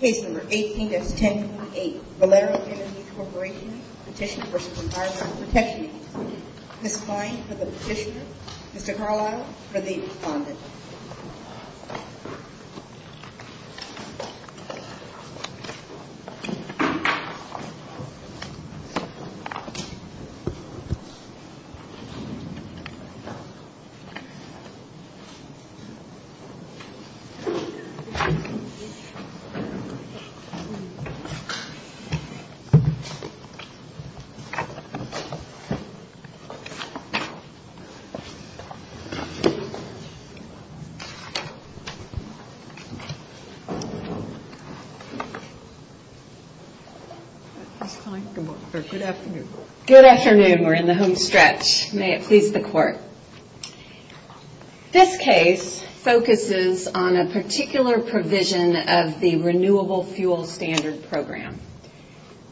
Case number 18-1028 Valero Energy Corporation Petition v. Environment Protection Agency This is the line for the petitioner. Mr. Carlisle, for the respondent. Good afternoon. We're in the homestretch. May it please the Court. This case focuses on a particular provision of the Renewable Fuel Standard Program.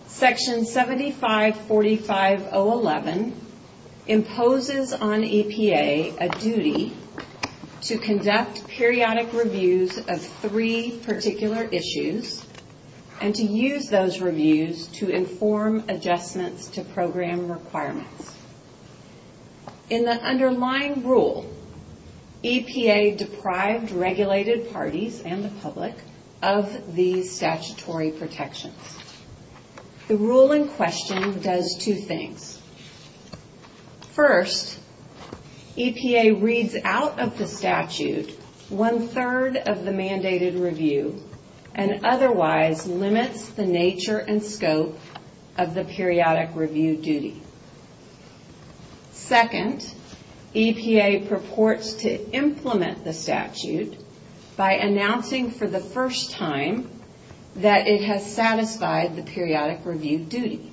Section 7545.011 imposes on EPA a duty to conduct periodic reviews of three particular issues and to use those reviews to inform adjustments to program requirements. In the underlying rule, EPA deprived regulated parties and the public of these statutory protections. The rule in question does two things. First, EPA reads out of the statute one-third of the mandated review and otherwise limits the nature and scope of the periodic review duty. Second, EPA purports to implement the statute by announcing for the first time that it has satisfied the periodic review duty.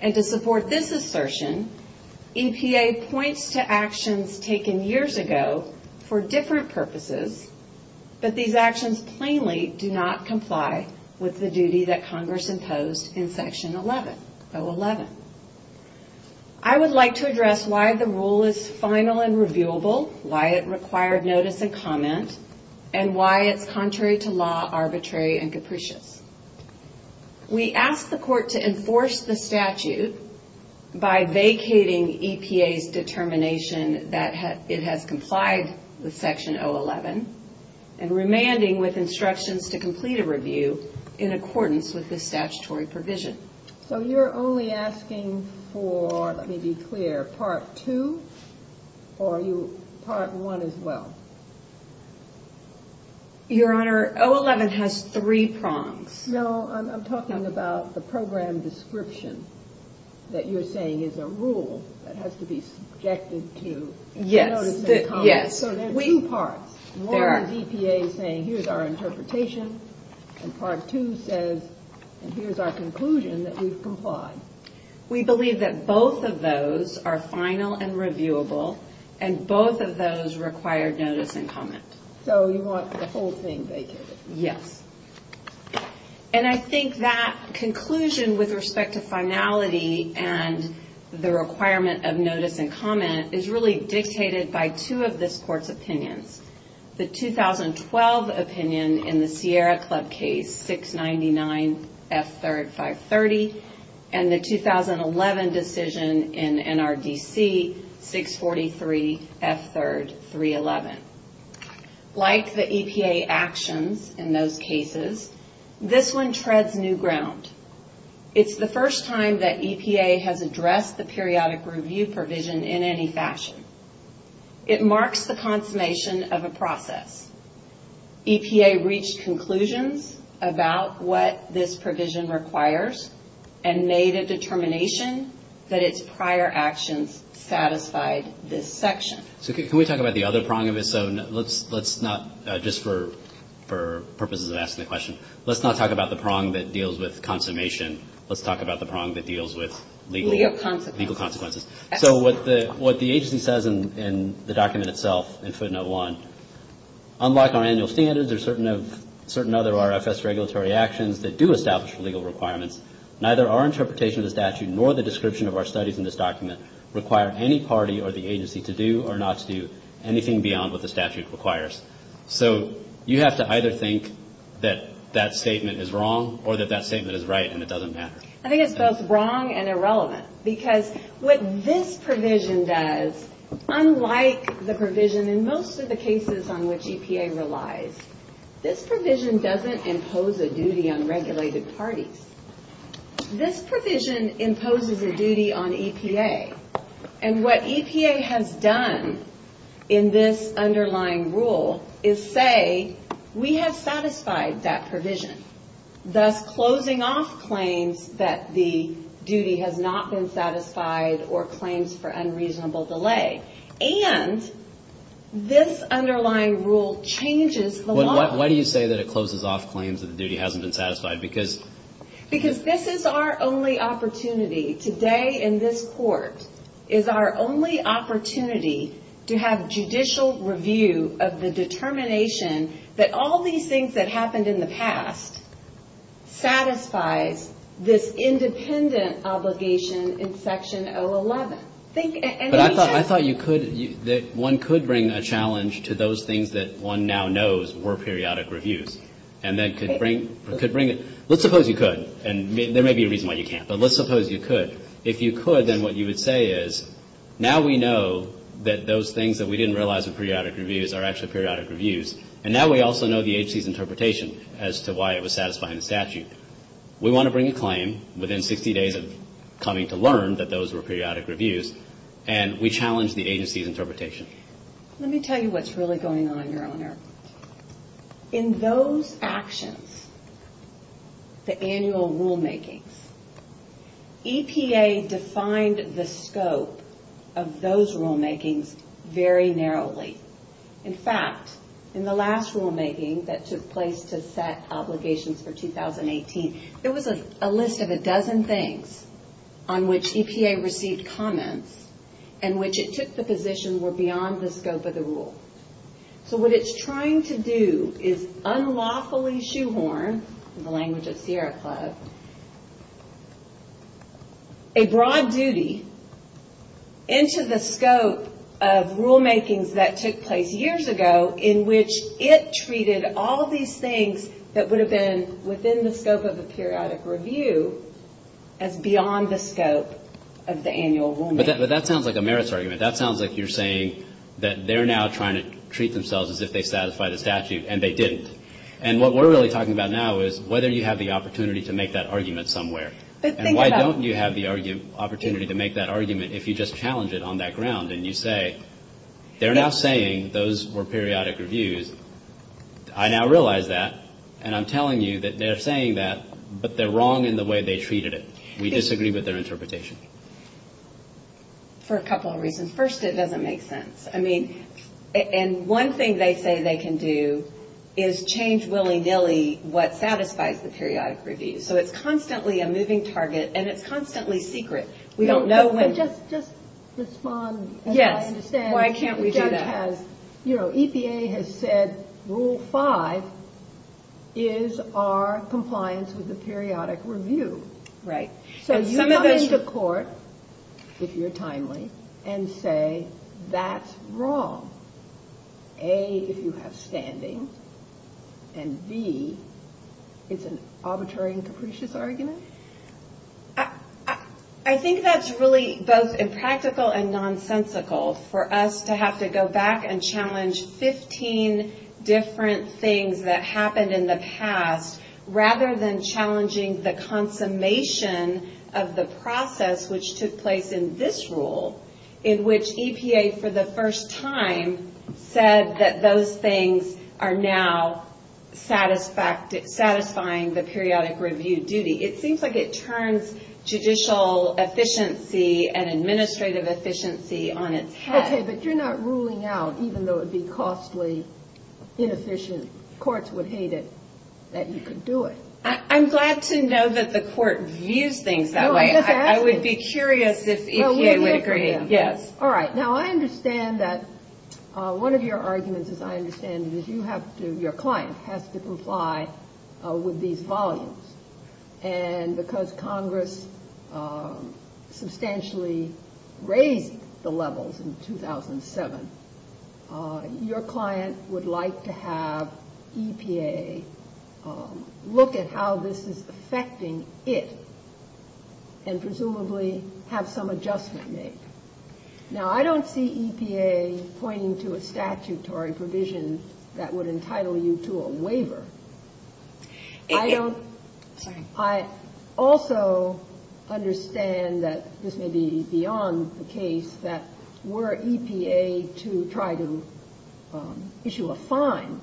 And to support this assertion, EPA points to actions taken years ago for different purposes but these actions plainly do not comply with the duty that Congress imposed in Section 011. I would like to address why the rule is final and reviewable, why it required notice and comment, and why it's contrary to law, arbitrary, and capricious. We ask the Court to enforce the statute by vacating EPA's determination that it has complied with Section 011 and remanding with instructions to complete a review in accordance with this statutory provision. So you're only asking for, let me be clear, Part 2 or Part 1 as well? Your Honor, 011 has three prongs. No, I'm talking about the program description that you're saying is a rule that has to be subjected to notice and comment. Yes. So there are two parts. One is EPA saying, here's our interpretation, and Part 2 says, here's our conclusion that we've complied. We believe that both of those are final and reviewable, and both of those require notice and comment. So you want the whole thing vacated? Yes. And I think that conclusion with respect to finality and the requirement of notice and comment is really dictated by two of this Court's opinions. The 2012 opinion in the Sierra Club case, 699 F3rd 530, and the 2011 decision in NRDC, 643 F3rd 311. Like the EPA actions in those cases, this one treads new ground. It's the first time that EPA has addressed the periodic review provision in any fashion. It marks the consummation of a process. EPA reached conclusions about what this provision requires and made a determination that its prior actions satisfied this section. So can we talk about the other prong of it? So let's not, just for purposes of asking the question, let's not talk about the prong that deals with consummation. Let's talk about the prong that deals with legal consequences. So what the agency says in the document itself in footnote 1, unlike our annual standards or certain other RFS regulatory actions that do establish legal requirements, neither our interpretation of the statute nor the description of our studies in this document require any party or the agency to do or not to do anything beyond what the statute requires. So you have to either think that that statement is wrong or that that statement is right and it doesn't matter. I think it's both wrong and irrelevant because what this provision does, unlike the provision in most of the cases on which EPA relies, this provision doesn't impose a duty on regulated parties. This provision imposes a duty on EPA. And what EPA has done in this underlying rule is say we have satisfied that provision, thus closing off claims that the duty has not been satisfied or claims for unreasonable delay. Why do you say that it closes off claims that the duty hasn't been satisfied? Because this is our only opportunity today in this court, is our only opportunity to have judicial review of the determination that all these things that happened in the past satisfies this independent obligation in Section 011. But I thought you could, one could bring a challenge to those things that one now knows were periodic reviews. And then could bring, let's suppose you could. And there may be a reason why you can't. But let's suppose you could. If you could, then what you would say is now we know that those things that we didn't realize were periodic reviews are actually periodic reviews. And now we also know the agency's interpretation as to why it was satisfying the statute. We want to bring a claim within 60 days of coming to learn that those were periodic reviews. And we challenge the agency's interpretation. Let me tell you what's really going on, Your Honor. In those actions, the annual rulemakings, EPA defined the scope of those rulemakings very narrowly. In fact, in the last rulemaking that took place to set obligations for 2018, there was a list of a dozen things on which EPA received comments and which it took the position were beyond the scope of the rule. So what it's trying to do is unlawfully shoehorn, in the language of Sierra Club, a broad duty into the scope of rulemakings that took place years ago in which it treated all these things that would have been within the scope of a periodic review as beyond the scope of the annual rulemaking. But that sounds like a merits argument. That sounds like you're saying that they're now trying to treat themselves as if they satisfied a statute, and they didn't. And what we're really talking about now is whether you have the opportunity to make that argument somewhere. And why don't you have the opportunity to make that argument if you just challenge it on that ground and you say they're now saying those were periodic reviews. I now realize that, and I'm telling you that they're saying that, but they're wrong in the way they treated it. We disagree with their interpretation. For a couple of reasons. First, it doesn't make sense. And one thing they say they can do is change willy-nilly what satisfies the periodic review. So it's constantly a moving target, and it's constantly secret. We don't know when. Just respond as I understand. Why can't we do that? The judge has, you know, EPA has said Rule 5 is our compliance with the periodic review. Right. So you come into court, if you're timely, and say that's wrong. A, if you have standing, and B, it's an arbitrary and capricious argument? I think that's really both impractical and nonsensical for us to have to go back and challenge 15 different things that happened in the past rather than challenging the consummation of the process which took place in this rule in which EPA for the first time said that those things are now satisfying the periodic review duty. It seems like it turns judicial efficiency and administrative efficiency on its head. Okay, but you're not ruling out, even though it would be costly, inefficient, the courts would hate it, that you could do it. I'm glad to know that the court views things that way. I would be curious if EPA would agree. All right. Now, I understand that one of your arguments, as I understand it, is your client has to comply with these volumes. And because Congress substantially raised the levels in 2007, your client would like to have EPA look at how this is affecting it and presumably have some adjustment made. Now, I don't see EPA pointing to a statutory provision that would entitle you to a waiver. I also understand that this may be beyond the case, that were EPA to try to issue a fine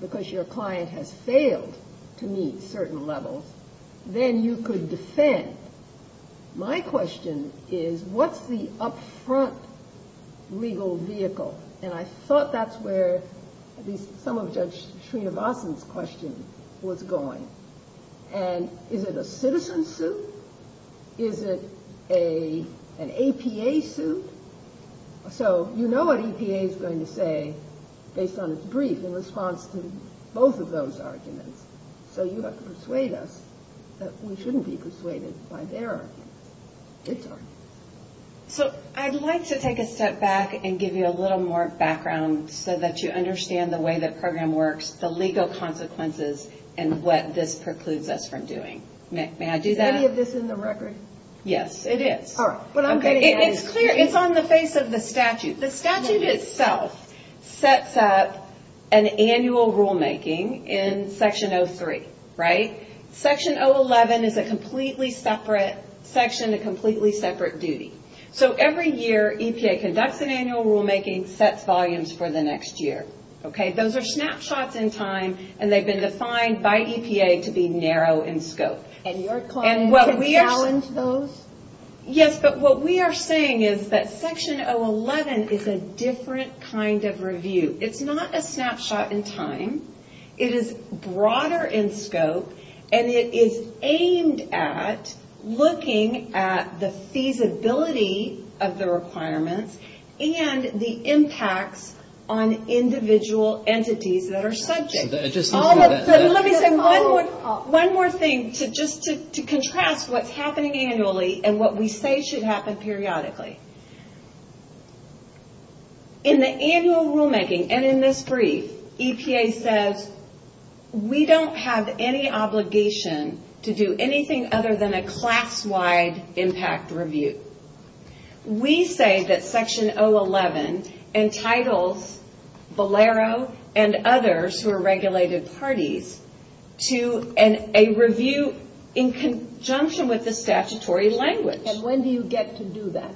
because your client has failed to meet certain levels, then you could defend. My question is, what's the upfront legal vehicle? And I thought that's where at least some of Judge Srinivasan's question was going. And is it a citizen suit? Is it an APA suit? So you know what EPA is going to say based on its brief in response to both of those arguments. So you have to persuade us that we shouldn't be persuaded by their arguments. So I'd like to take a step back and give you a little more background so that you understand the way the program works, the legal consequences, and what this precludes us from doing. It's on the face of the statute. The statute itself sets up an annual rulemaking in Section 03. Section 011 is a completely separate section, a completely separate duty. So every year EPA conducts an annual rulemaking, sets volumes for the next year. Those are snapshots in time, and they've been defined by EPA to be narrow in scope. And your client can challenge those? Yes, but what we are saying is that Section 011 is a different kind of review. It's not a snapshot in time. It is broader in scope, and it is aimed at looking at the feasibility of the requirements and the impacts on individual entities that are subject. Let me say one more thing just to contrast what's happening annually and what we say should happen periodically. In the annual rulemaking, and in this brief, EPA says, we don't have any obligation to do anything other than a class-wide impact review. We say that Section 011 entitles Bolero and others who are regulated parties to a review in conjunction with the statutory language. And when do you get to do that?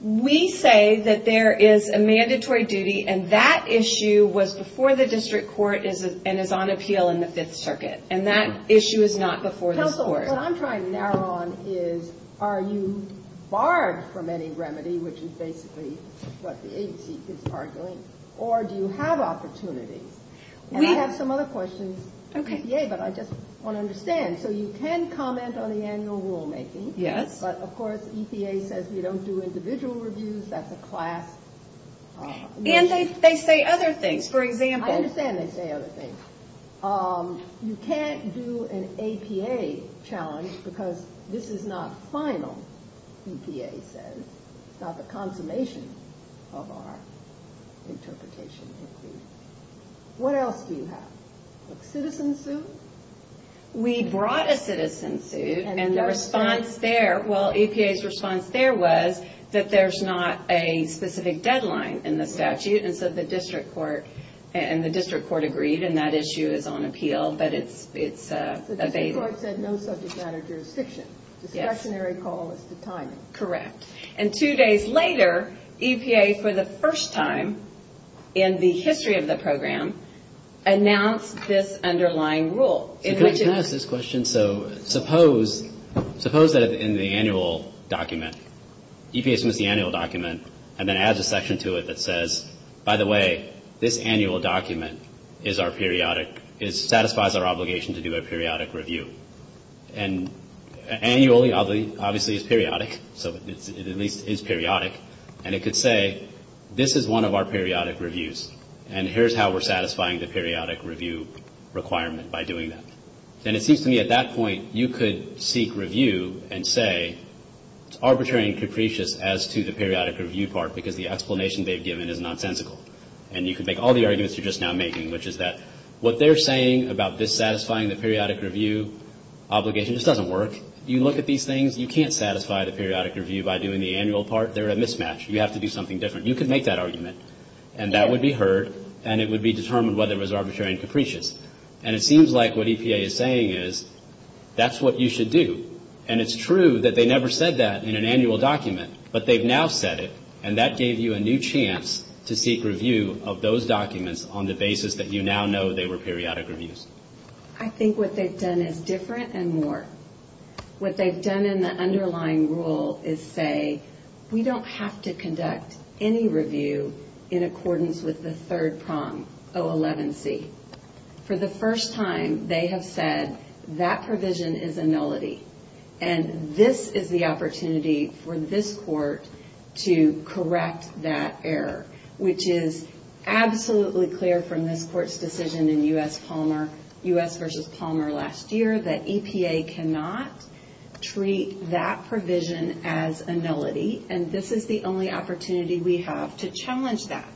We say that there is a mandatory duty, and that issue was before the district court and is on appeal in the Fifth Circuit. And that issue is not before this court. What I'm trying to narrow on is, are you barred from any remedy, which is basically what the agency is arguing, or do you have opportunities? And I have some other questions for EPA, but I just want to understand. So you can comment on the annual rulemaking, but of course EPA says we don't do individual reviews, that's a class issue. I understand they say other things. You can't do an APA challenge because this is not final, EPA says. It's not the consummation of our interpretation. What else do you have? A citizen suit? We brought a citizen suit, and EPA's response there was that there's not a specific deadline in the statute. And the district court agreed, and that issue is on appeal. The district court said no subject matter jurisdiction. The discretionary call is to time it. And two days later, EPA, for the first time in the history of the program, announced this underlying rule. Can I ask this question? So suppose that in the annual document, EPA submits the annual document and then adds a section to it that says, by the way, this annual document satisfies our obligation to do a periodic review. And annually, obviously, is periodic, so it at least is periodic. And it could say, this is one of our periodic reviews, and here's how we're satisfying the periodic review requirement by doing that. And it seems to me at that point, you could seek review and say, it's arbitrary and capricious as to the periodic review part, because the explanation they've given is nonsensical. And you could make all the arguments you're just now making, which is that what they're saying about dissatisfying the periodic review obligation just doesn't work. You look at these things, you can't satisfy the periodic review by doing the annual part. They're a mismatch. You have to do something different. You could make that argument, and that would be heard, and it would be determined whether it was arbitrary and capricious. And it seems like what EPA is saying is, that's what you should do. And it's true that they never said that in an annual document, but they've now said it, and that gave you a new chance to seek review of those documents on the basis that you now know they were periodic reviews. I think what they've done is different and more. What they've done in the underlying rule is say, we don't have to conduct any review in accordance with the third prong, O11C. For the first time, they have said, that provision is a nullity. And this is the opportunity for this court to correct that error, which is absolutely clear from this court's decision in U.S. versus Palmer last year, that EPA cannot treat that provision as a nullity. And this is the only opportunity we have to challenge that.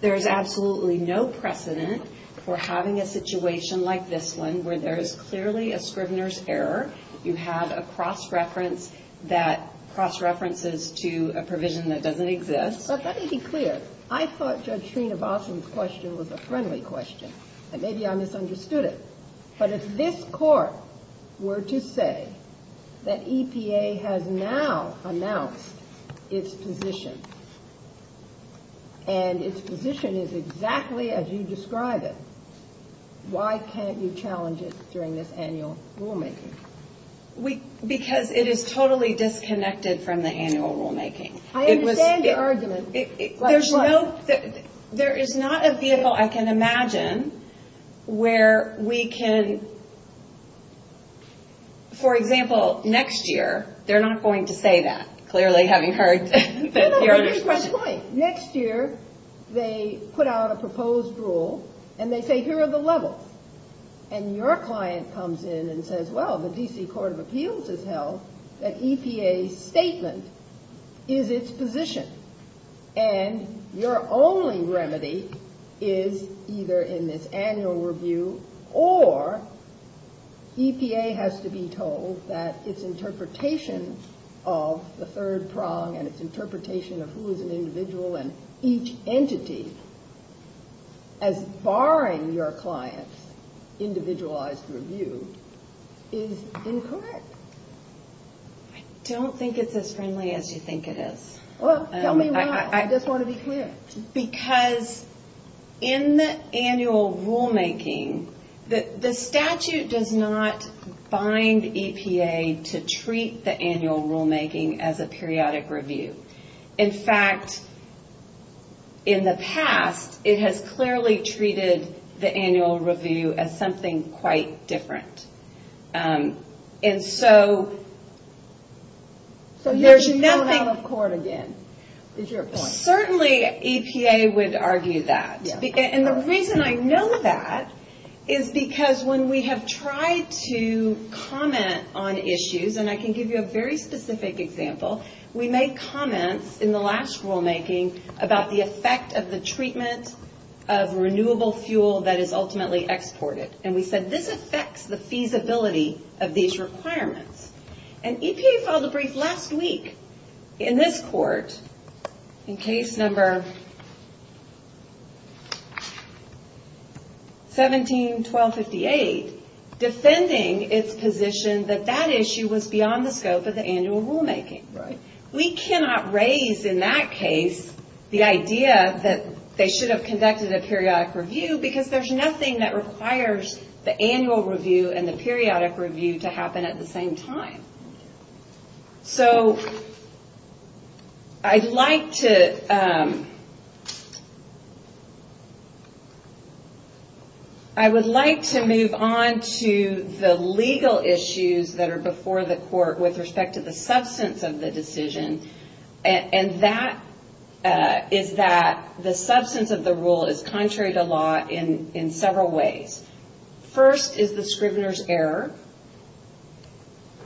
There's absolutely no precedent for having a situation like this one, where there is clearly a scrivener's error. You have a cross-reference that cross-references to a provision that doesn't exist. But let me be clear. I thought Judge Sreenivasan's question was a friendly question, and maybe I misunderstood it. But if this court were to say that EPA has now announced its position, and its position is exactly as you describe it, why can't you challenge it during this annual rulemaking? Because it is totally disconnected from the annual rulemaking. I understand your argument. There is not a vehicle, I can imagine, where we can... For example, next year, they're not going to say that. Next year, they put out a proposed rule, and they say, here are the levels. And your client comes in and says, well, the D.C. Court of Appeals has held that EPA's statement is its position. And your only remedy is either in this annual review, or EPA has to be told that its interpretation of the third prong, and its interpretation of who is an individual and each entity, as barring your client's individualized review, is incorrect. I don't think it's as friendly as you think it is. Well, tell me why, I just want to be clear. Because in the annual rulemaking, the statute does not bind EPA to treat the annual rulemaking as a periodic review. In fact, in the past, it has clearly treated the annual review as something quite different. And so, there's nothing... Certainly, EPA would argue that. And the reason I know that is because when we have tried to comment on issues, and I can give you a very specific example, we made comments in the last rulemaking about the effect of the treatment of renewable fuel that is ultimately exported. And we said, this affects the feasibility of these requirements. And EPA filed a brief last week in this court, in case number 17-1258, defending its position that that issue was beyond the scope of the annual rulemaking. We cannot raise in that case the idea that they should have conducted a periodic review, because there's nothing that requires the annual review and the periodic review to happen at the same time. So, I'd like to... I would like to move on to the legal issues that are before the court with respect to the substance of the decision. And that is that the substance of the rule is contrary to law in several ways. First is the scrivener's error.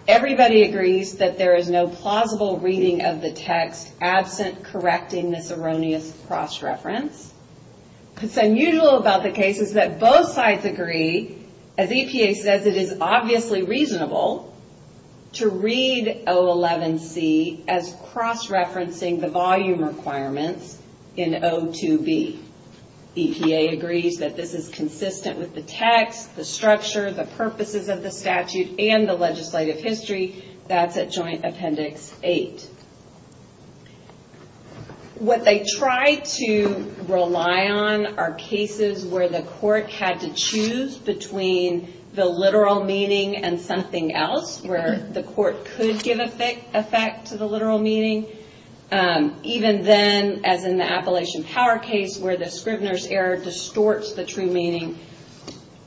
Everybody agrees that there is no plausible reading of the text absent correcting this erroneous cross-reference. What's unusual about the case is that both sides agree, as EPA says, it is obviously reasonable to read O11C as cross-referencing the volume requirements in O2B. EPA agrees that this is consistent with the text, the structure, the purposes of the statute, and the legislative history. That's at Joint Appendix 8. What they try to rely on are cases where the court had to choose between the literal meaning and something else, where the court could give effect to the literal meaning. Even then, as in the Appalachian Power case, where the scrivener's error distorts the true meaning,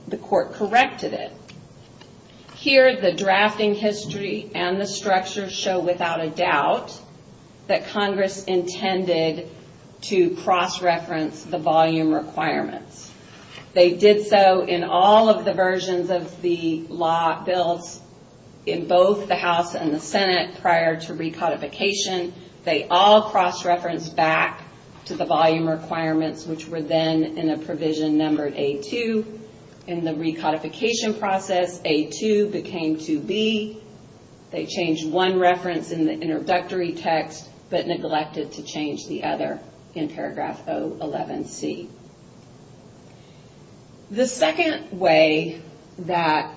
the court corrected it. Here, the drafting history and the structure show without a doubt that Congress intended to cross-reference the volume requirements. They did so in all of the versions of the law bills in both the House and the Senate prior to recodification. They all cross-referenced back to the volume requirements, which were then in a provision numbered A2. In the recodification process, A2 became 2B. They changed one reference in the introductory text, but neglected to change the other in paragraph O11C. The second way that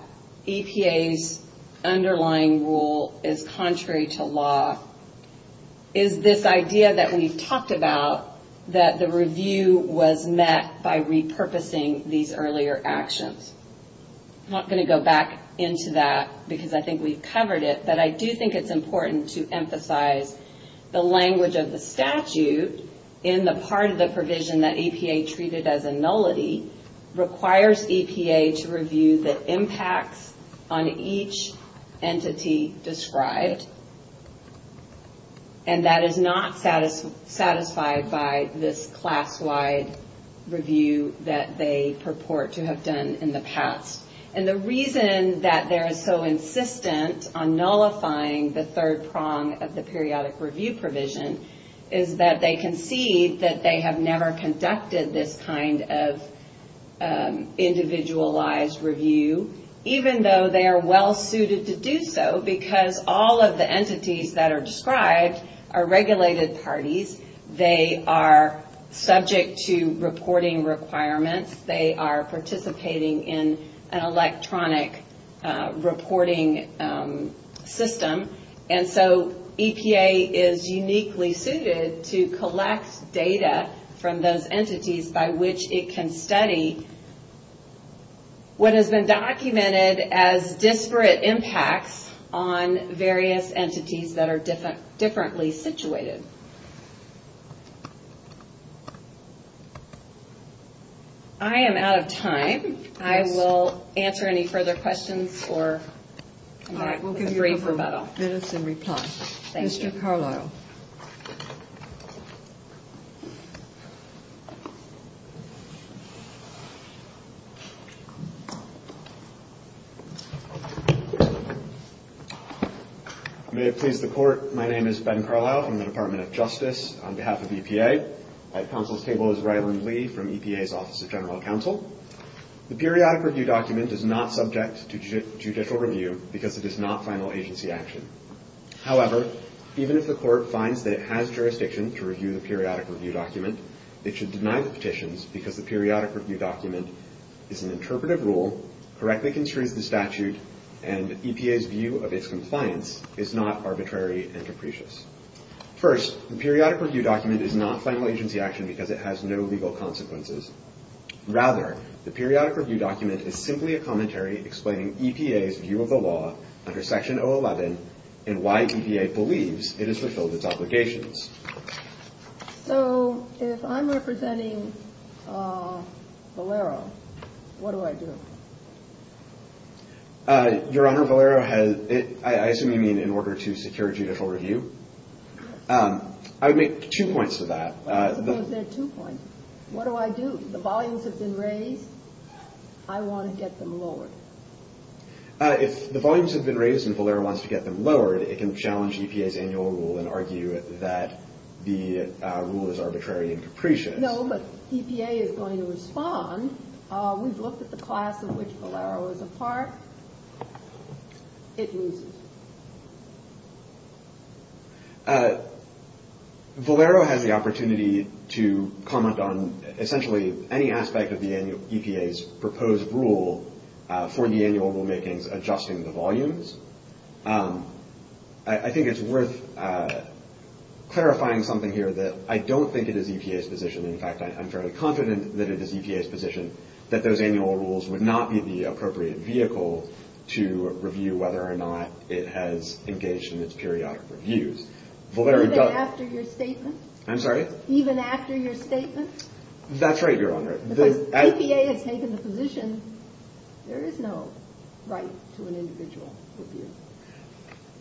EPA's underlying rule is contrary to law is this idea that we've talked about, that the review was met by repurposing these earlier actions. I'm not going to go back into that because I think we've covered it, but I do think it's important to emphasize the language of the statute in the part of the provision that EPA treated as a nullity requires EPA to review the impacts on each entity described. That is not satisfied by this class-wide review that they purport to have done in the past. The reason that they're so insistent on nullifying the third prong of the periodic review provision is that they concede that they have never conducted this kind of individualized review, even though they are well suited to do so because all of the entities that are described are regulated parties. They are subject to reporting requirements. They are participating in an electronic reporting system. EPA is uniquely suited to collect data from those entities by which it can study what has been documented as disparate impacts on various entities that are differently situated. I am out of time. I will answer any further questions or come back with a brief rebuttal. Mr. Carlisle. I may have pleased the Court. My name is Ben Carlisle from the Department of Justice on behalf of EPA. At counsel's table is Ryland Lee from EPA's Office of General Counsel. The periodic review document is not subject to judicial review because it is not final agency action. However, even if the Court finds that it has jurisdiction to review the periodic review document, it should deny the petitions because the periodic review document is an interpretive rule, correctly construes the statute, and EPA's view of its compliance is not arbitrary and capricious. First, the periodic review document is not final agency action because it has no legal consequences. Rather, the periodic review document is simply a commentary explaining EPA's view of the law under Section 011 and why EPA believes it has fulfilled its obligations. So if I'm representing Valero, what do I do? Your Honor, Valero has, I assume you mean in order to secure judicial review? I would make two points to that. What do I do? The volumes have been raised. I want to get them lowered. If the volumes have been raised and Valero wants to get them lowered, it can challenge EPA's annual rule and argue that the rule is arbitrary and capricious. No, but EPA is going to respond. We've looked at the class of which Valero is a part. It loses. Valero has the opportunity to comment on for the annual rulemakings, adjusting the volumes. I think it's worth clarifying something here that I don't think it is EPA's position. In fact, I'm fairly confident that it is EPA's position that those annual rules would not be the appropriate vehicle to review whether or not it has engaged in its periodic reviews. Even after your statement? That's right, Your Honor. EPA has taken the position there is no right to an individual review.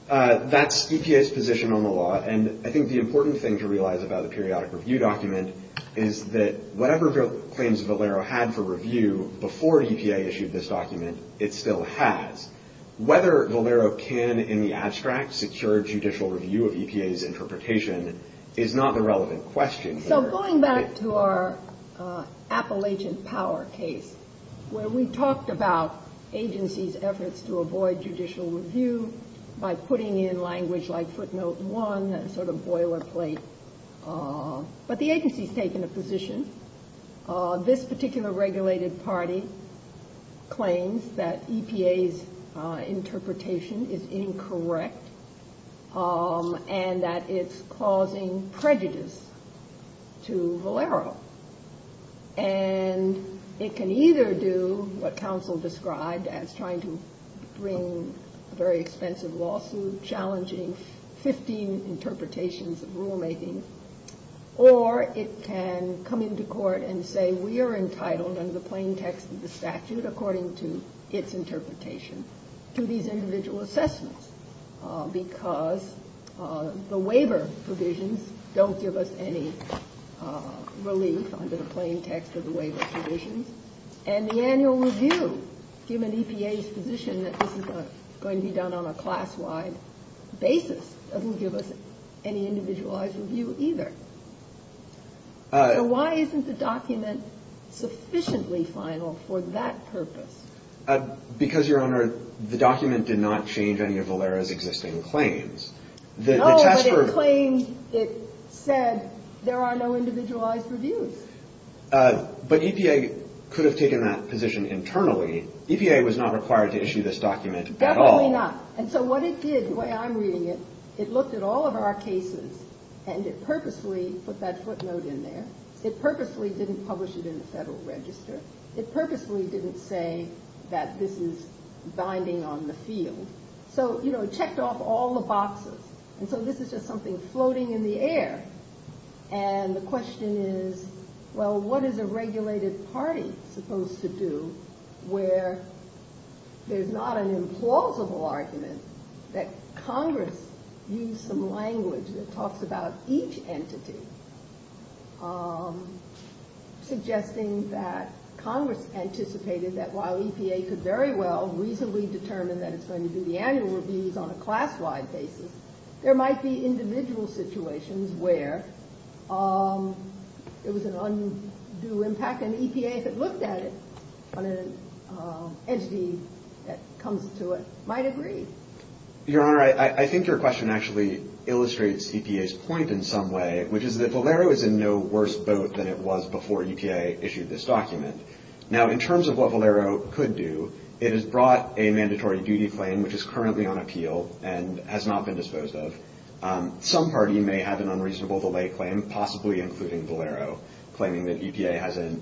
That's EPA's position on the law, and I think the important thing to realize about the periodic review document is that whatever claims Valero had for review before EPA issued this document, it still has. Whether Valero can in the abstract secure judicial review of EPA's interpretation is not a relevant question here. Going back to our Appalachian Power case where we talked about agencies' efforts to avoid judicial review by putting in language like footnote one, a sort of boilerplate. But the agency has taken a position. This particular regulated party claims that EPA's interpretation is incorrect and that it's causing prejudice to Valero. And it can either do what counsel described as trying to bring a very expensive lawsuit challenging 15 interpretations of rulemaking, or it can come into court and say, we are entitled under the plain text of the statute according to its interpretation to these individual assessments because the waiver provisions don't give us any relief under the plain text of the waiver provisions. And the annual review, given EPA's position that this is going to be done on a class-wide basis, doesn't give us any individualized review either. So why isn't the document sufficiently final for that purpose? Because, Your Honor, the document did not change any of Valero's existing claims. No, but it claimed, it said there are no individualized reviews. But EPA could have taken that position internally. EPA was not required to issue this document at all. Definitely not. And so what it did, the way I'm reading it, it looked at all of our cases, and it purposely put that footnote in there. It purposely didn't publish it in the Federal Register. It purposely didn't say that this is binding on the field. So it checked off all the boxes. And so this is just something floating in the air. And the question is, well, what is a regulated party supposed to do where there's not an implausible argument that Congress used some language that talks about each entity, suggesting that Congress anticipated that while EPA could very well reasonably determine that it's going to do the annual reviews on a class-wide basis, there might be individual situations where it was an undue impact. And EPA, if it looked at it on an entity that comes to it, might agree. Your Honor, I think your question actually illustrates EPA's point in some way, which is that Valero is in no worse boat than it was before EPA issued this document. Now, in terms of what Valero could do, it has brought a mandatory duty claim, which is currently on appeal and has not been disposed of. Some party may have an unreasonable delay claim, possibly including Valero, claiming that EPA hasn't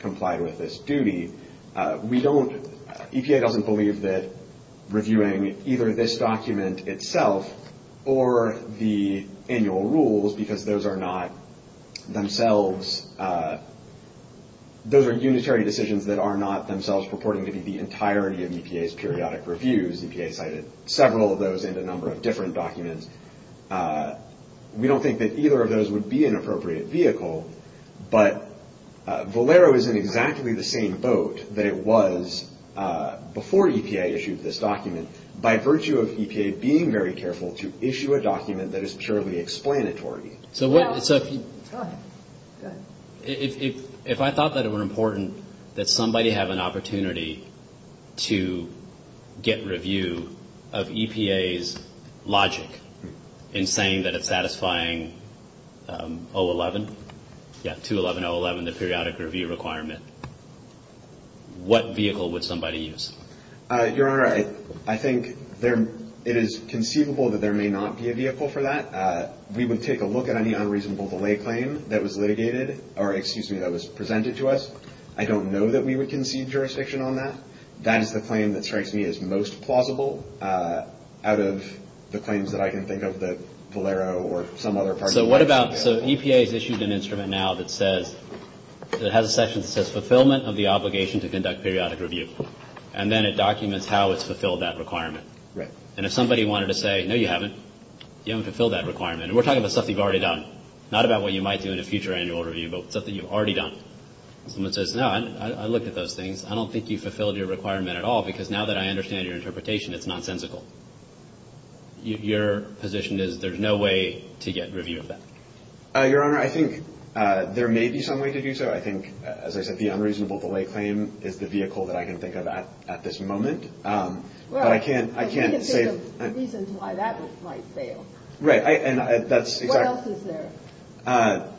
complied with this duty. EPA doesn't believe that reviewing either this document itself or the annual rules, because those are not themselves. Those are unitary decisions that are not themselves purporting to be the entirety of EPA's periodic reviews. EPA cited several of those and a number of different documents. We don't think that either of those would be an appropriate vehicle, but Valero is in exactly the same boat that it was before EPA issued this document, by virtue of EPA being very careful to issue a document that is purely explanatory. So if I thought that it were important that somebody have an opportunity to get review of EPA's logic in saying that it's satisfying 011, yeah, 211.011, the periodic review requirement, what vehicle would somebody use? Your Honor, I think it is conceivable that there may not be a vehicle for that. We would take a look at any unreasonable delay claim that was litigated, or excuse me, that was presented to us. I don't know that we would concede jurisdiction on that. That is the claim that strikes me as most plausible out of the claims that I can think of that Valero or some other party that has a section that says fulfillment of the obligation to conduct periodic review. And then it documents how it's fulfilled that requirement. And if somebody wanted to say, no, you haven't, you haven't fulfilled that requirement. And we're talking about stuff that you've already done, not about what you might do in a future annual review, but stuff that you've already done. Someone says, no, I looked at those things. I don't think you fulfilled your requirement at all, because now that I understand your interpretation, it's nonsensical. Your position is there's no way to get review of that? Your Honor, I think there may be some way to do so. I think, as I said, the unreasonable delay claim is the vehicle that I can think of at this moment. But I can't say the reason why that might fail. What else is there? I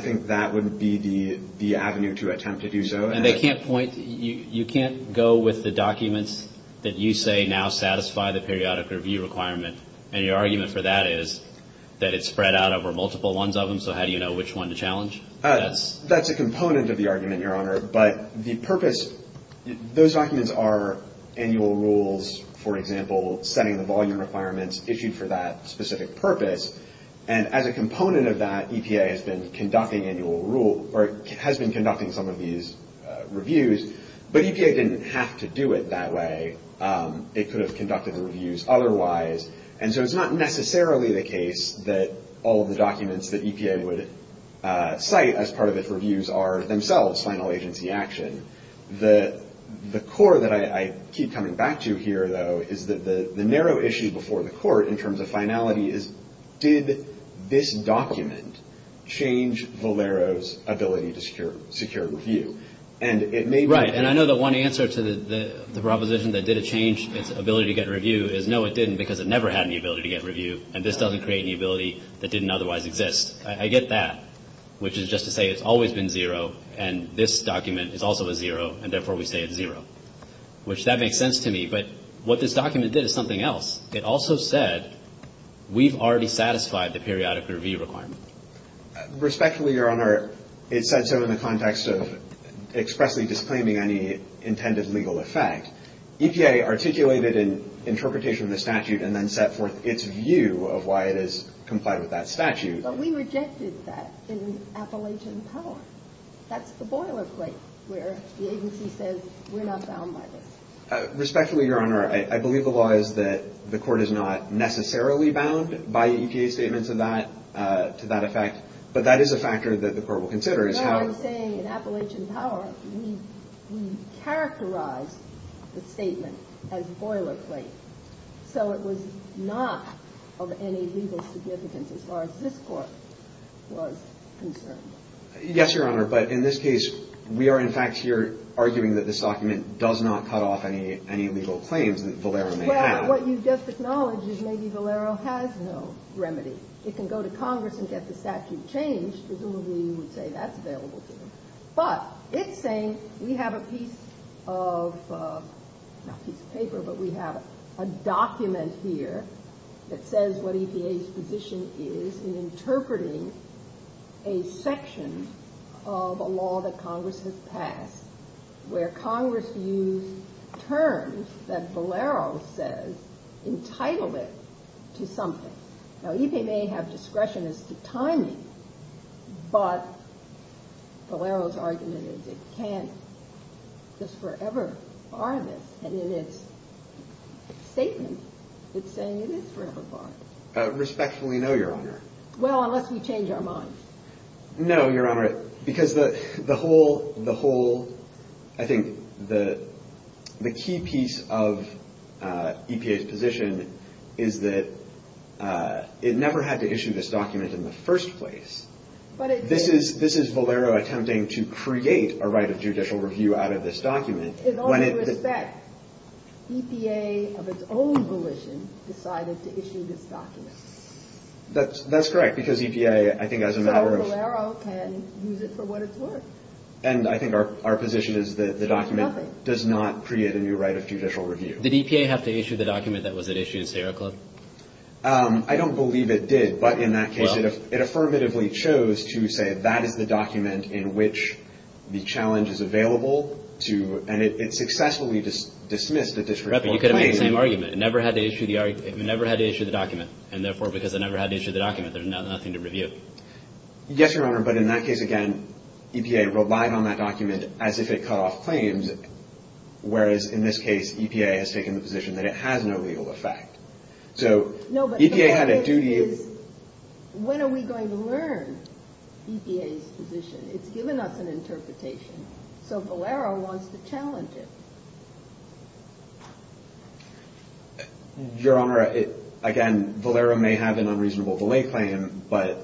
think that would be the avenue to attempt to do so. You can't go with the documents that you say now satisfy the periodic review requirement, and your argument for that is that it's spread out over multiple ones of them, so how do you know which one to challenge? That's a component of the argument, Your Honor. But the purpose, those documents are annual rules, for example, setting the volume requirements issued for that specific purpose. And as a component of that, EPA has been conducting some of these reviews. But EPA didn't have to do it that way. It could have conducted the reviews otherwise. And so it's not necessarily the case that all of the documents that EPA would cite as part of its reviews are themselves final agency action. The core that I keep coming back to here, though, is that the narrow issue before the Court in terms of finality is, did this document change Valero's ability to secure review? And it may be the case that it did. And I know the one answer to the proposition that did it change its ability to get review is, no, it didn't because it never had any ability to get review, and this doesn't create any ability that didn't otherwise exist. I get that, which is just to say it's always been zero, and this document is also a zero, and therefore we say it's zero, which that makes sense to me. But what this document did is something else. It also said we've already satisfied the periodic review requirement. Respectfully, Your Honor, it said so in the context of expressly disclaiming any intended legal effect. EPA articulated an interpretation of the statute and then set forth its view of why it has complied with that statute. But we rejected that in Appalachian Power. That's the boilerplate where the agency says we're not bound by this. Respectfully, Your Honor, I believe the law is that the court is not necessarily bound by EPA's statements to that effect, but that is a factor that the court will consider. But what I'm saying in Appalachian Power, we characterized the statement as boilerplate, so it was not of any legal significance as far as this court was concerned. Yes, Your Honor, but in this case, we are, in fact, here arguing that this document does not cut off any legal claims that Valero may have. Well, what you just acknowledged is maybe Valero has no remedy. It can go to Congress and get the statute changed. Presumably you would say that's available to them. But it's saying we have a piece of, not a piece of paper, but we have a document here that says what EPA's position is in interpreting a section of a law that Congress has passed where Congress used terms that Valero says entitled it to something. Now, EPA may have discretion as to timing, but Valero's argument is it can't just forever bar this, and in its statement, it's saying it is forever barred. Respectfully, no, Your Honor. Well, unless we change our minds. No, Your Honor, because the whole, I think the key piece of EPA's position is that it never had to issue this document in the first place. This is Valero attempting to create a right of judicial review out of this document In all due respect, EPA of its own volition decided to issue this document. That's correct, because EPA, I think as a matter of So Valero can use it for what it's worth. And I think our position is that the document Nothing. Does not create a new right of judicial review. Did EPA have to issue the document that was at issue in Sierra Club? I don't believe it did, but in that case Well. It affirmatively chose to say that is the document in which the challenge is available to, and it successfully dismissed a district court claim. Correct, but you could have made the same argument. It never had to issue the document, and therefore, because it never had to issue the document, there's nothing to review. Yes, Your Honor, but in that case, again, EPA relied on that document as if it cut off claims, whereas in this case, EPA has taken the position that it has no legal effect. No, but the point is, when are we going to learn EPA's position? It's given us an interpretation, so Valero wants to challenge it. Your Honor, again, Valero may have an unreasonable delay claim, but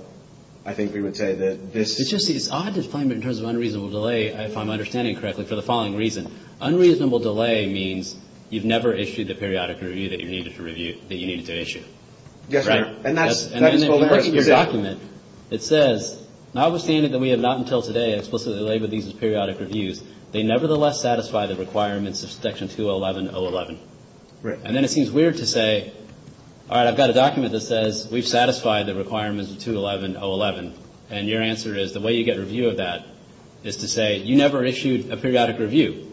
I think we would say that this It's just that it's odd to define it in terms of unreasonable delay, if I'm understanding correctly, for the following reason. Unreasonable delay means you've never issued the periodic review that you needed to issue. Yes, Your Honor, and that's Valero's position. And then in your document, it says, notwithstanding that we have not until today explicitly labeled these as periodic reviews, they nevertheless satisfy the requirements of Section 211.011. Right. And then it seems weird to say, all right, I've got a document that says we've satisfied the requirements of 211.011, and your answer is the way you get review of that is to say you never issued a periodic review.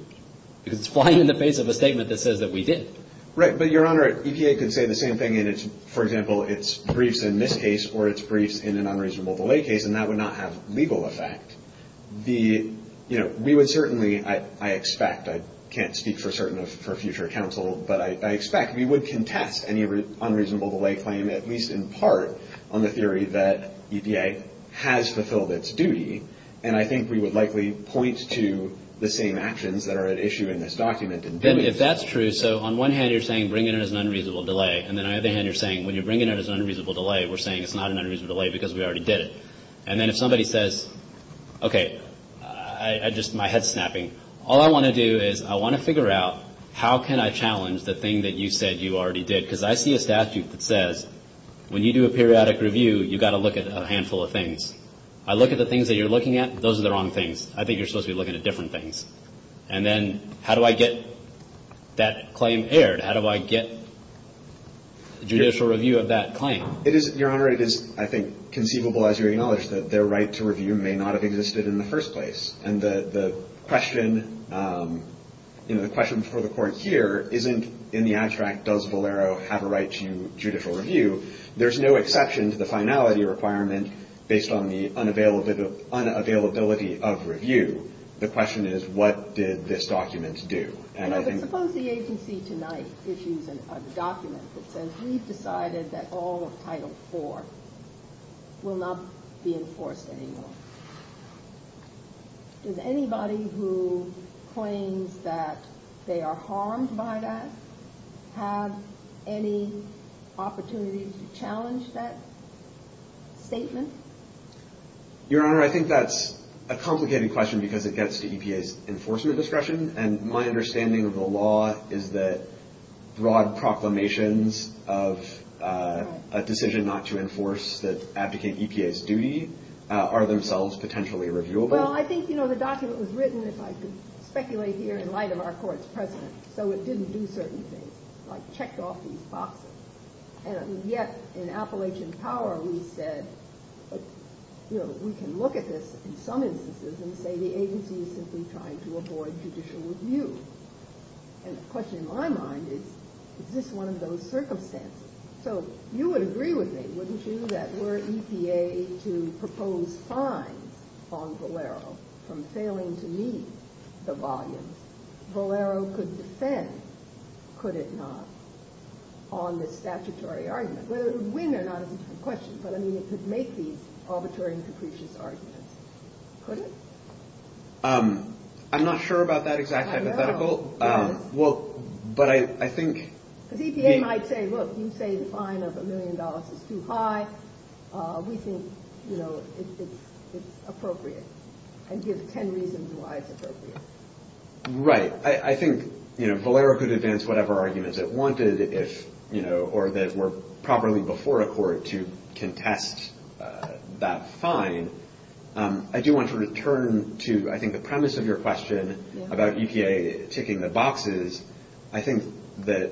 Because it's flying in the face of a statement that says that we did. Right, but, Your Honor, EPA could say the same thing, and it's, for example, it's briefs in this case or it's briefs in an unreasonable delay case, and that would not have legal effect. The, you know, we would certainly, I expect, I can't speak for certain for future counsel, but I expect we would contest any unreasonable delay claim, at least in part, on the theory that EPA has fulfilled its duty. And I think we would likely point to the same actions that are at issue in this document. And if that's true, so on one hand, you're saying bring it as an unreasonable delay, and then on the other hand, you're saying when you're bringing it as an unreasonable delay, we're saying it's not an unreasonable delay because we already did it. And then if somebody says, okay, I just, my head's snapping, all I want to do is I want to figure out how can I challenge the thing that you said you already did. Because I see a statute that says when you do a periodic review, you've got to look at a handful of things. I look at the things that you're looking at, those are the wrong things. I think you're supposed to be looking at different things. And then how do I get that claim aired? How do I get judicial review of that claim? It is, Your Honor, it is, I think, conceivable as you acknowledge that their right to review may not have existed in the first place. And the question, you know, the question for the Court here isn't in the abstract does Valero have a right to judicial review. There's no exception to the finality requirement based on the unavailability of review. The question is what did this document do? Suppose the agency tonight issues a document that says we've decided that all of Title IV will not be enforced anymore. Does anybody who claims that they are harmed by that have any opportunity to challenge that statement? Your Honor, I think that's a complicated question because it gets to EPA's enforcement discretion. And my understanding of the law is that broad proclamations of a decision not to enforce that abdicates EPA's duty are themselves potentially reviewable. Well, I think, you know, the document was written, if I could speculate here, in light of our Court's precedent. So it didn't do certain things like check off these boxes. And yet in Appalachian Power we said, you know, we can look at this in some instances and say the agency is simply trying to avoid judicial review. And the question in my mind is is this one of those circumstances? So you would agree with me, wouldn't you, that were EPA to propose fines on Valero from failing to meet the volumes, Valero could defend, could it not, on this statutory argument, whether it would win or not is a different question. But I mean, it could make these arbitrary and capricious arguments, could it? I'm not sure about that exact hypothetical. I know. Well, but I think. Because EPA might say, look, you say the fine of a million dollars is too high. We think, you know, it's appropriate and give ten reasons why it's appropriate. Right. I think, you know, Valero could advance whatever arguments it wanted, if you know, or that were properly before a court to contest that fine. I do want to return to, I think, the premise of your question about EPA ticking the boxes. I think that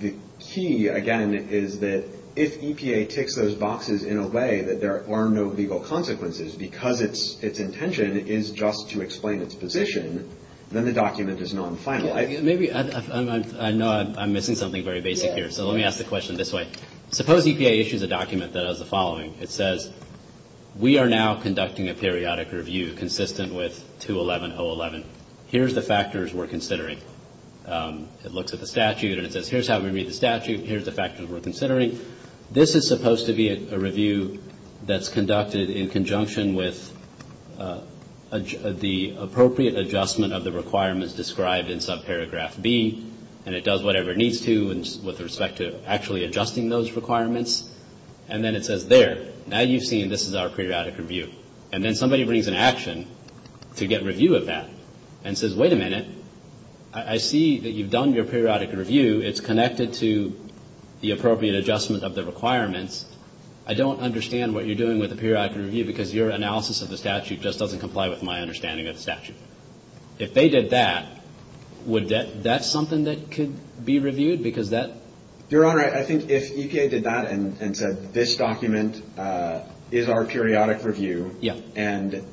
the key, again, is that if EPA ticks those boxes in a way that there are no legal consequences because its intention is just to explain its position, then the document is non-final. Maybe I know I'm missing something very basic here. So let me ask the question this way. Suppose EPA issues a document that has the following. It says, we are now conducting a periodic review consistent with 211.011. Here's the factors we're considering. It looks at the statute and it says, here's how we read the statute. Here's the factors we're considering. This is supposed to be a review that's conducted in conjunction with the appropriate adjustment of the requirements described in subparagraph B. And it does whatever it needs to with respect to actually adjusting those requirements. And then it says, there, now you've seen this is our periodic review. And then somebody brings an action to get review of that and says, wait a minute. I see that you've done your periodic review. It's connected to the appropriate adjustment of the requirements. I don't understand what you're doing with the periodic review because your analysis of the statute just doesn't comply with my understanding of the statute. If they did that, would that be something that could be reviewed? Your Honor, I think if EPA did that and said, this document is our periodic review. And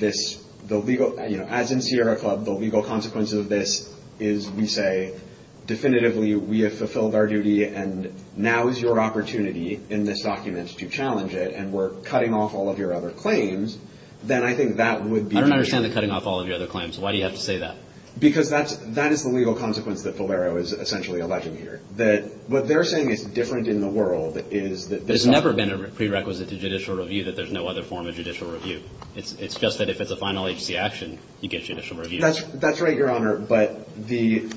as in Sierra Club, the legal consequences of this is, we say, definitively, we have fulfilled our duty. And now is your opportunity in this document to challenge it. And we're cutting off all of your other claims. Then I think that would be. I don't understand the cutting off all of your other claims. Why do you have to say that? Because that is the legal consequence that Valero is essentially alleging here. What they're saying is different in the world is that. There's never been a prerequisite to judicial review that there's no other form of judicial review. It's just that if it's a final agency action, you get judicial review. That's right, Your Honor. But the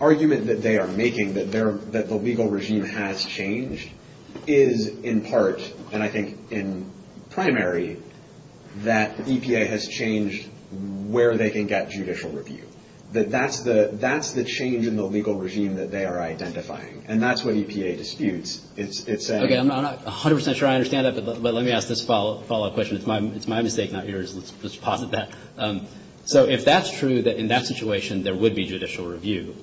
argument that they are making, that the legal regime has changed, is in part, and I think in primary, that EPA has changed where they can get judicial review. That that's the change in the legal regime that they are identifying. And that's what EPA disputes. I'm not 100 percent sure I understand that, but let me ask this follow-up question. It's my mistake, not yours. Let's posit that. So if that's true, that in that situation, there would be judicial review,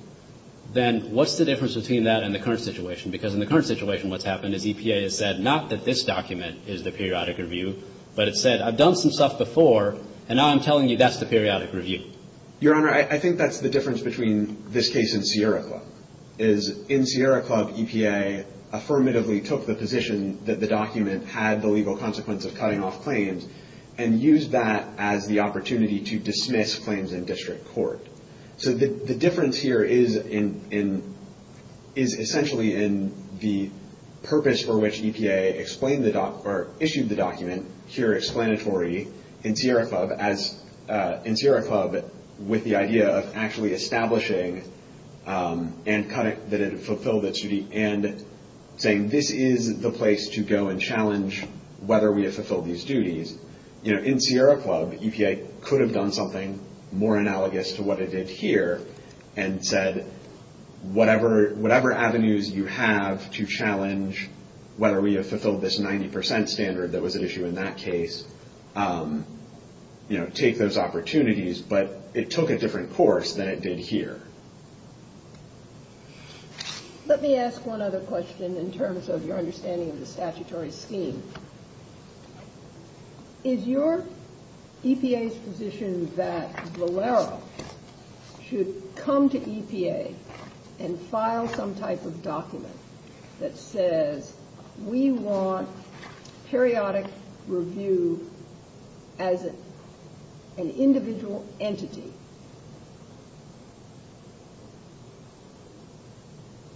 then what's the difference between that and the current situation? Because in the current situation, what's happened is EPA has said, not that this document is the periodic review, but it said, I've done some stuff before, and now I'm telling you that's the periodic review. Your Honor, I think that's the difference between this case and Sierra Club, is in Sierra Club, EPA affirmatively took the position that the document had the legal consequence of cutting off claims and used that as the opportunity to dismiss claims in district court. So the difference here is essentially in the purpose for which EPA explained the document, or issued the document, here explanatory, in Sierra Club, with the idea of actually establishing and saying, this is the place to go and challenge whether we have fulfilled these duties. In Sierra Club, EPA could have done something more analogous to what it did here and said, whatever avenues you have to challenge whether we have fulfilled this 90% standard that was at issue in that case, take those opportunities, but it took a different course than it did here. Let me ask one other question in terms of your understanding of the statutory scheme. Is your EPA's position that Valero should come to EPA and file some type of document that says, we want periodic review as an individual entity,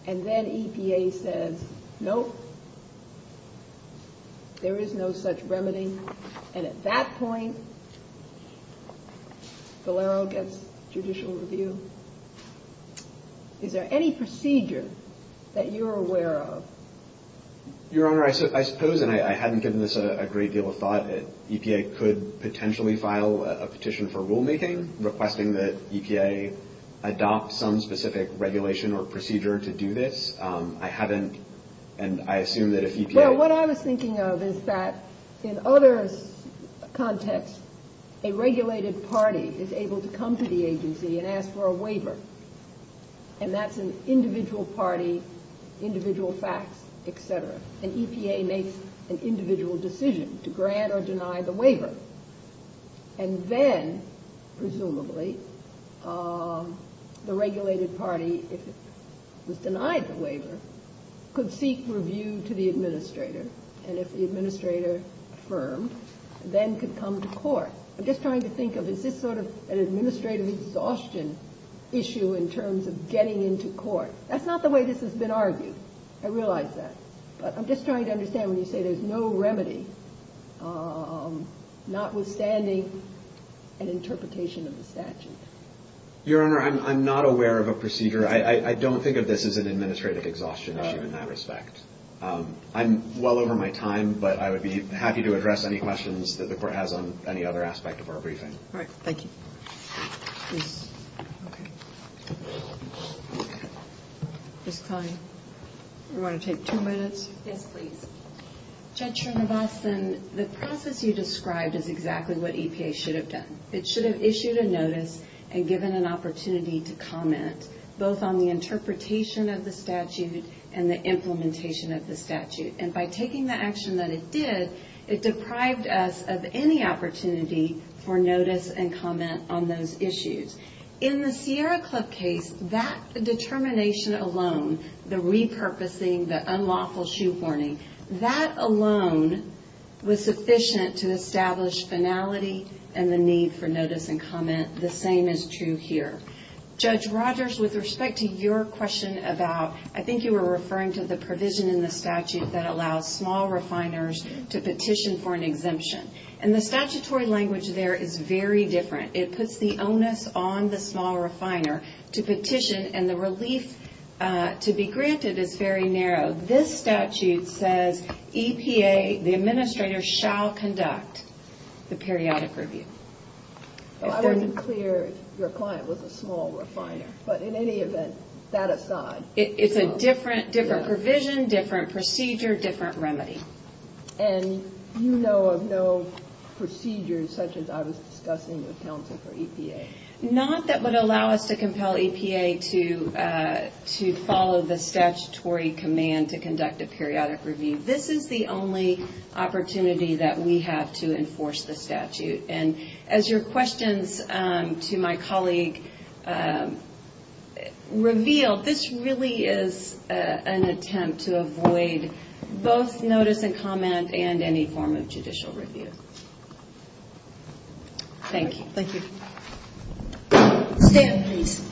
and then EPA says, nope, there is no such remedy, and at that point, Valero gets judicial review? Is there any procedure that you're aware of? Your Honor, I suppose, and I hadn't given this a great deal of thought, EPA could potentially file a petition for rulemaking requesting that EPA adopt some specific regulation or procedure to do this. I haven't, and I assume that if EPA Well, what I was thinking of is that in other contexts, a regulated party is able to come to the agency and ask for a waiver, and that's an individual party, individual facts, et cetera. An EPA makes an individual decision to grant or deny the waiver, and then, presumably, the regulated party, if it was denied the waiver, could seek review to the administrator, and if the administrator affirmed, then could come to court. I'm just trying to think of, is this sort of an administrative exhaustion issue in terms of getting into court? That's not the way this has been argued. I realize that. But I'm just trying to understand when you say there's no remedy, notwithstanding an interpretation of the statute. Your Honor, I'm not aware of a procedure. I don't think of this as an administrative exhaustion issue in that respect. I'm well over my time, but I would be happy to address any questions that the Court has on any other aspect of our briefing. All right. Thank you. Okay. Ms. Klein, do you want to take two minutes? Yes, please. Judge Trinivasan, the process you described is exactly what EPA should have done. It should have issued a notice and given an opportunity to comment, both on the interpretation of the statute and the implementation of the statute, and by taking the action that it did, it deprived us of any opportunity for notice and comment on those issues. In the Sierra Club case, that determination alone, the repurposing, the unlawful shoehorning, that alone was sufficient to establish finality and the need for notice and comment. The same is true here. Judge Rogers, with respect to your question about, I think you were referring to the provision in the statute that allows small refiners to petition for an exemption. And the statutory language there is very different. It puts the onus on the small refiner to petition, and the relief to be granted is very narrow. This statute says EPA, the administrator, shall conduct the periodic review. I wasn't clear if your client was a small refiner, but in any event, that aside. It's a different provision, different procedure, different remedy. And you know of no procedures such as I was discussing with counsel for EPA. Not that would allow us to compel EPA to follow the statutory command to conduct a periodic review. This is the only opportunity that we have to enforce the statute. And as your questions to my colleague revealed, this really is an attempt to avoid both notice and comment and any form of judicial review. Thank you. Thank you. Stan, please.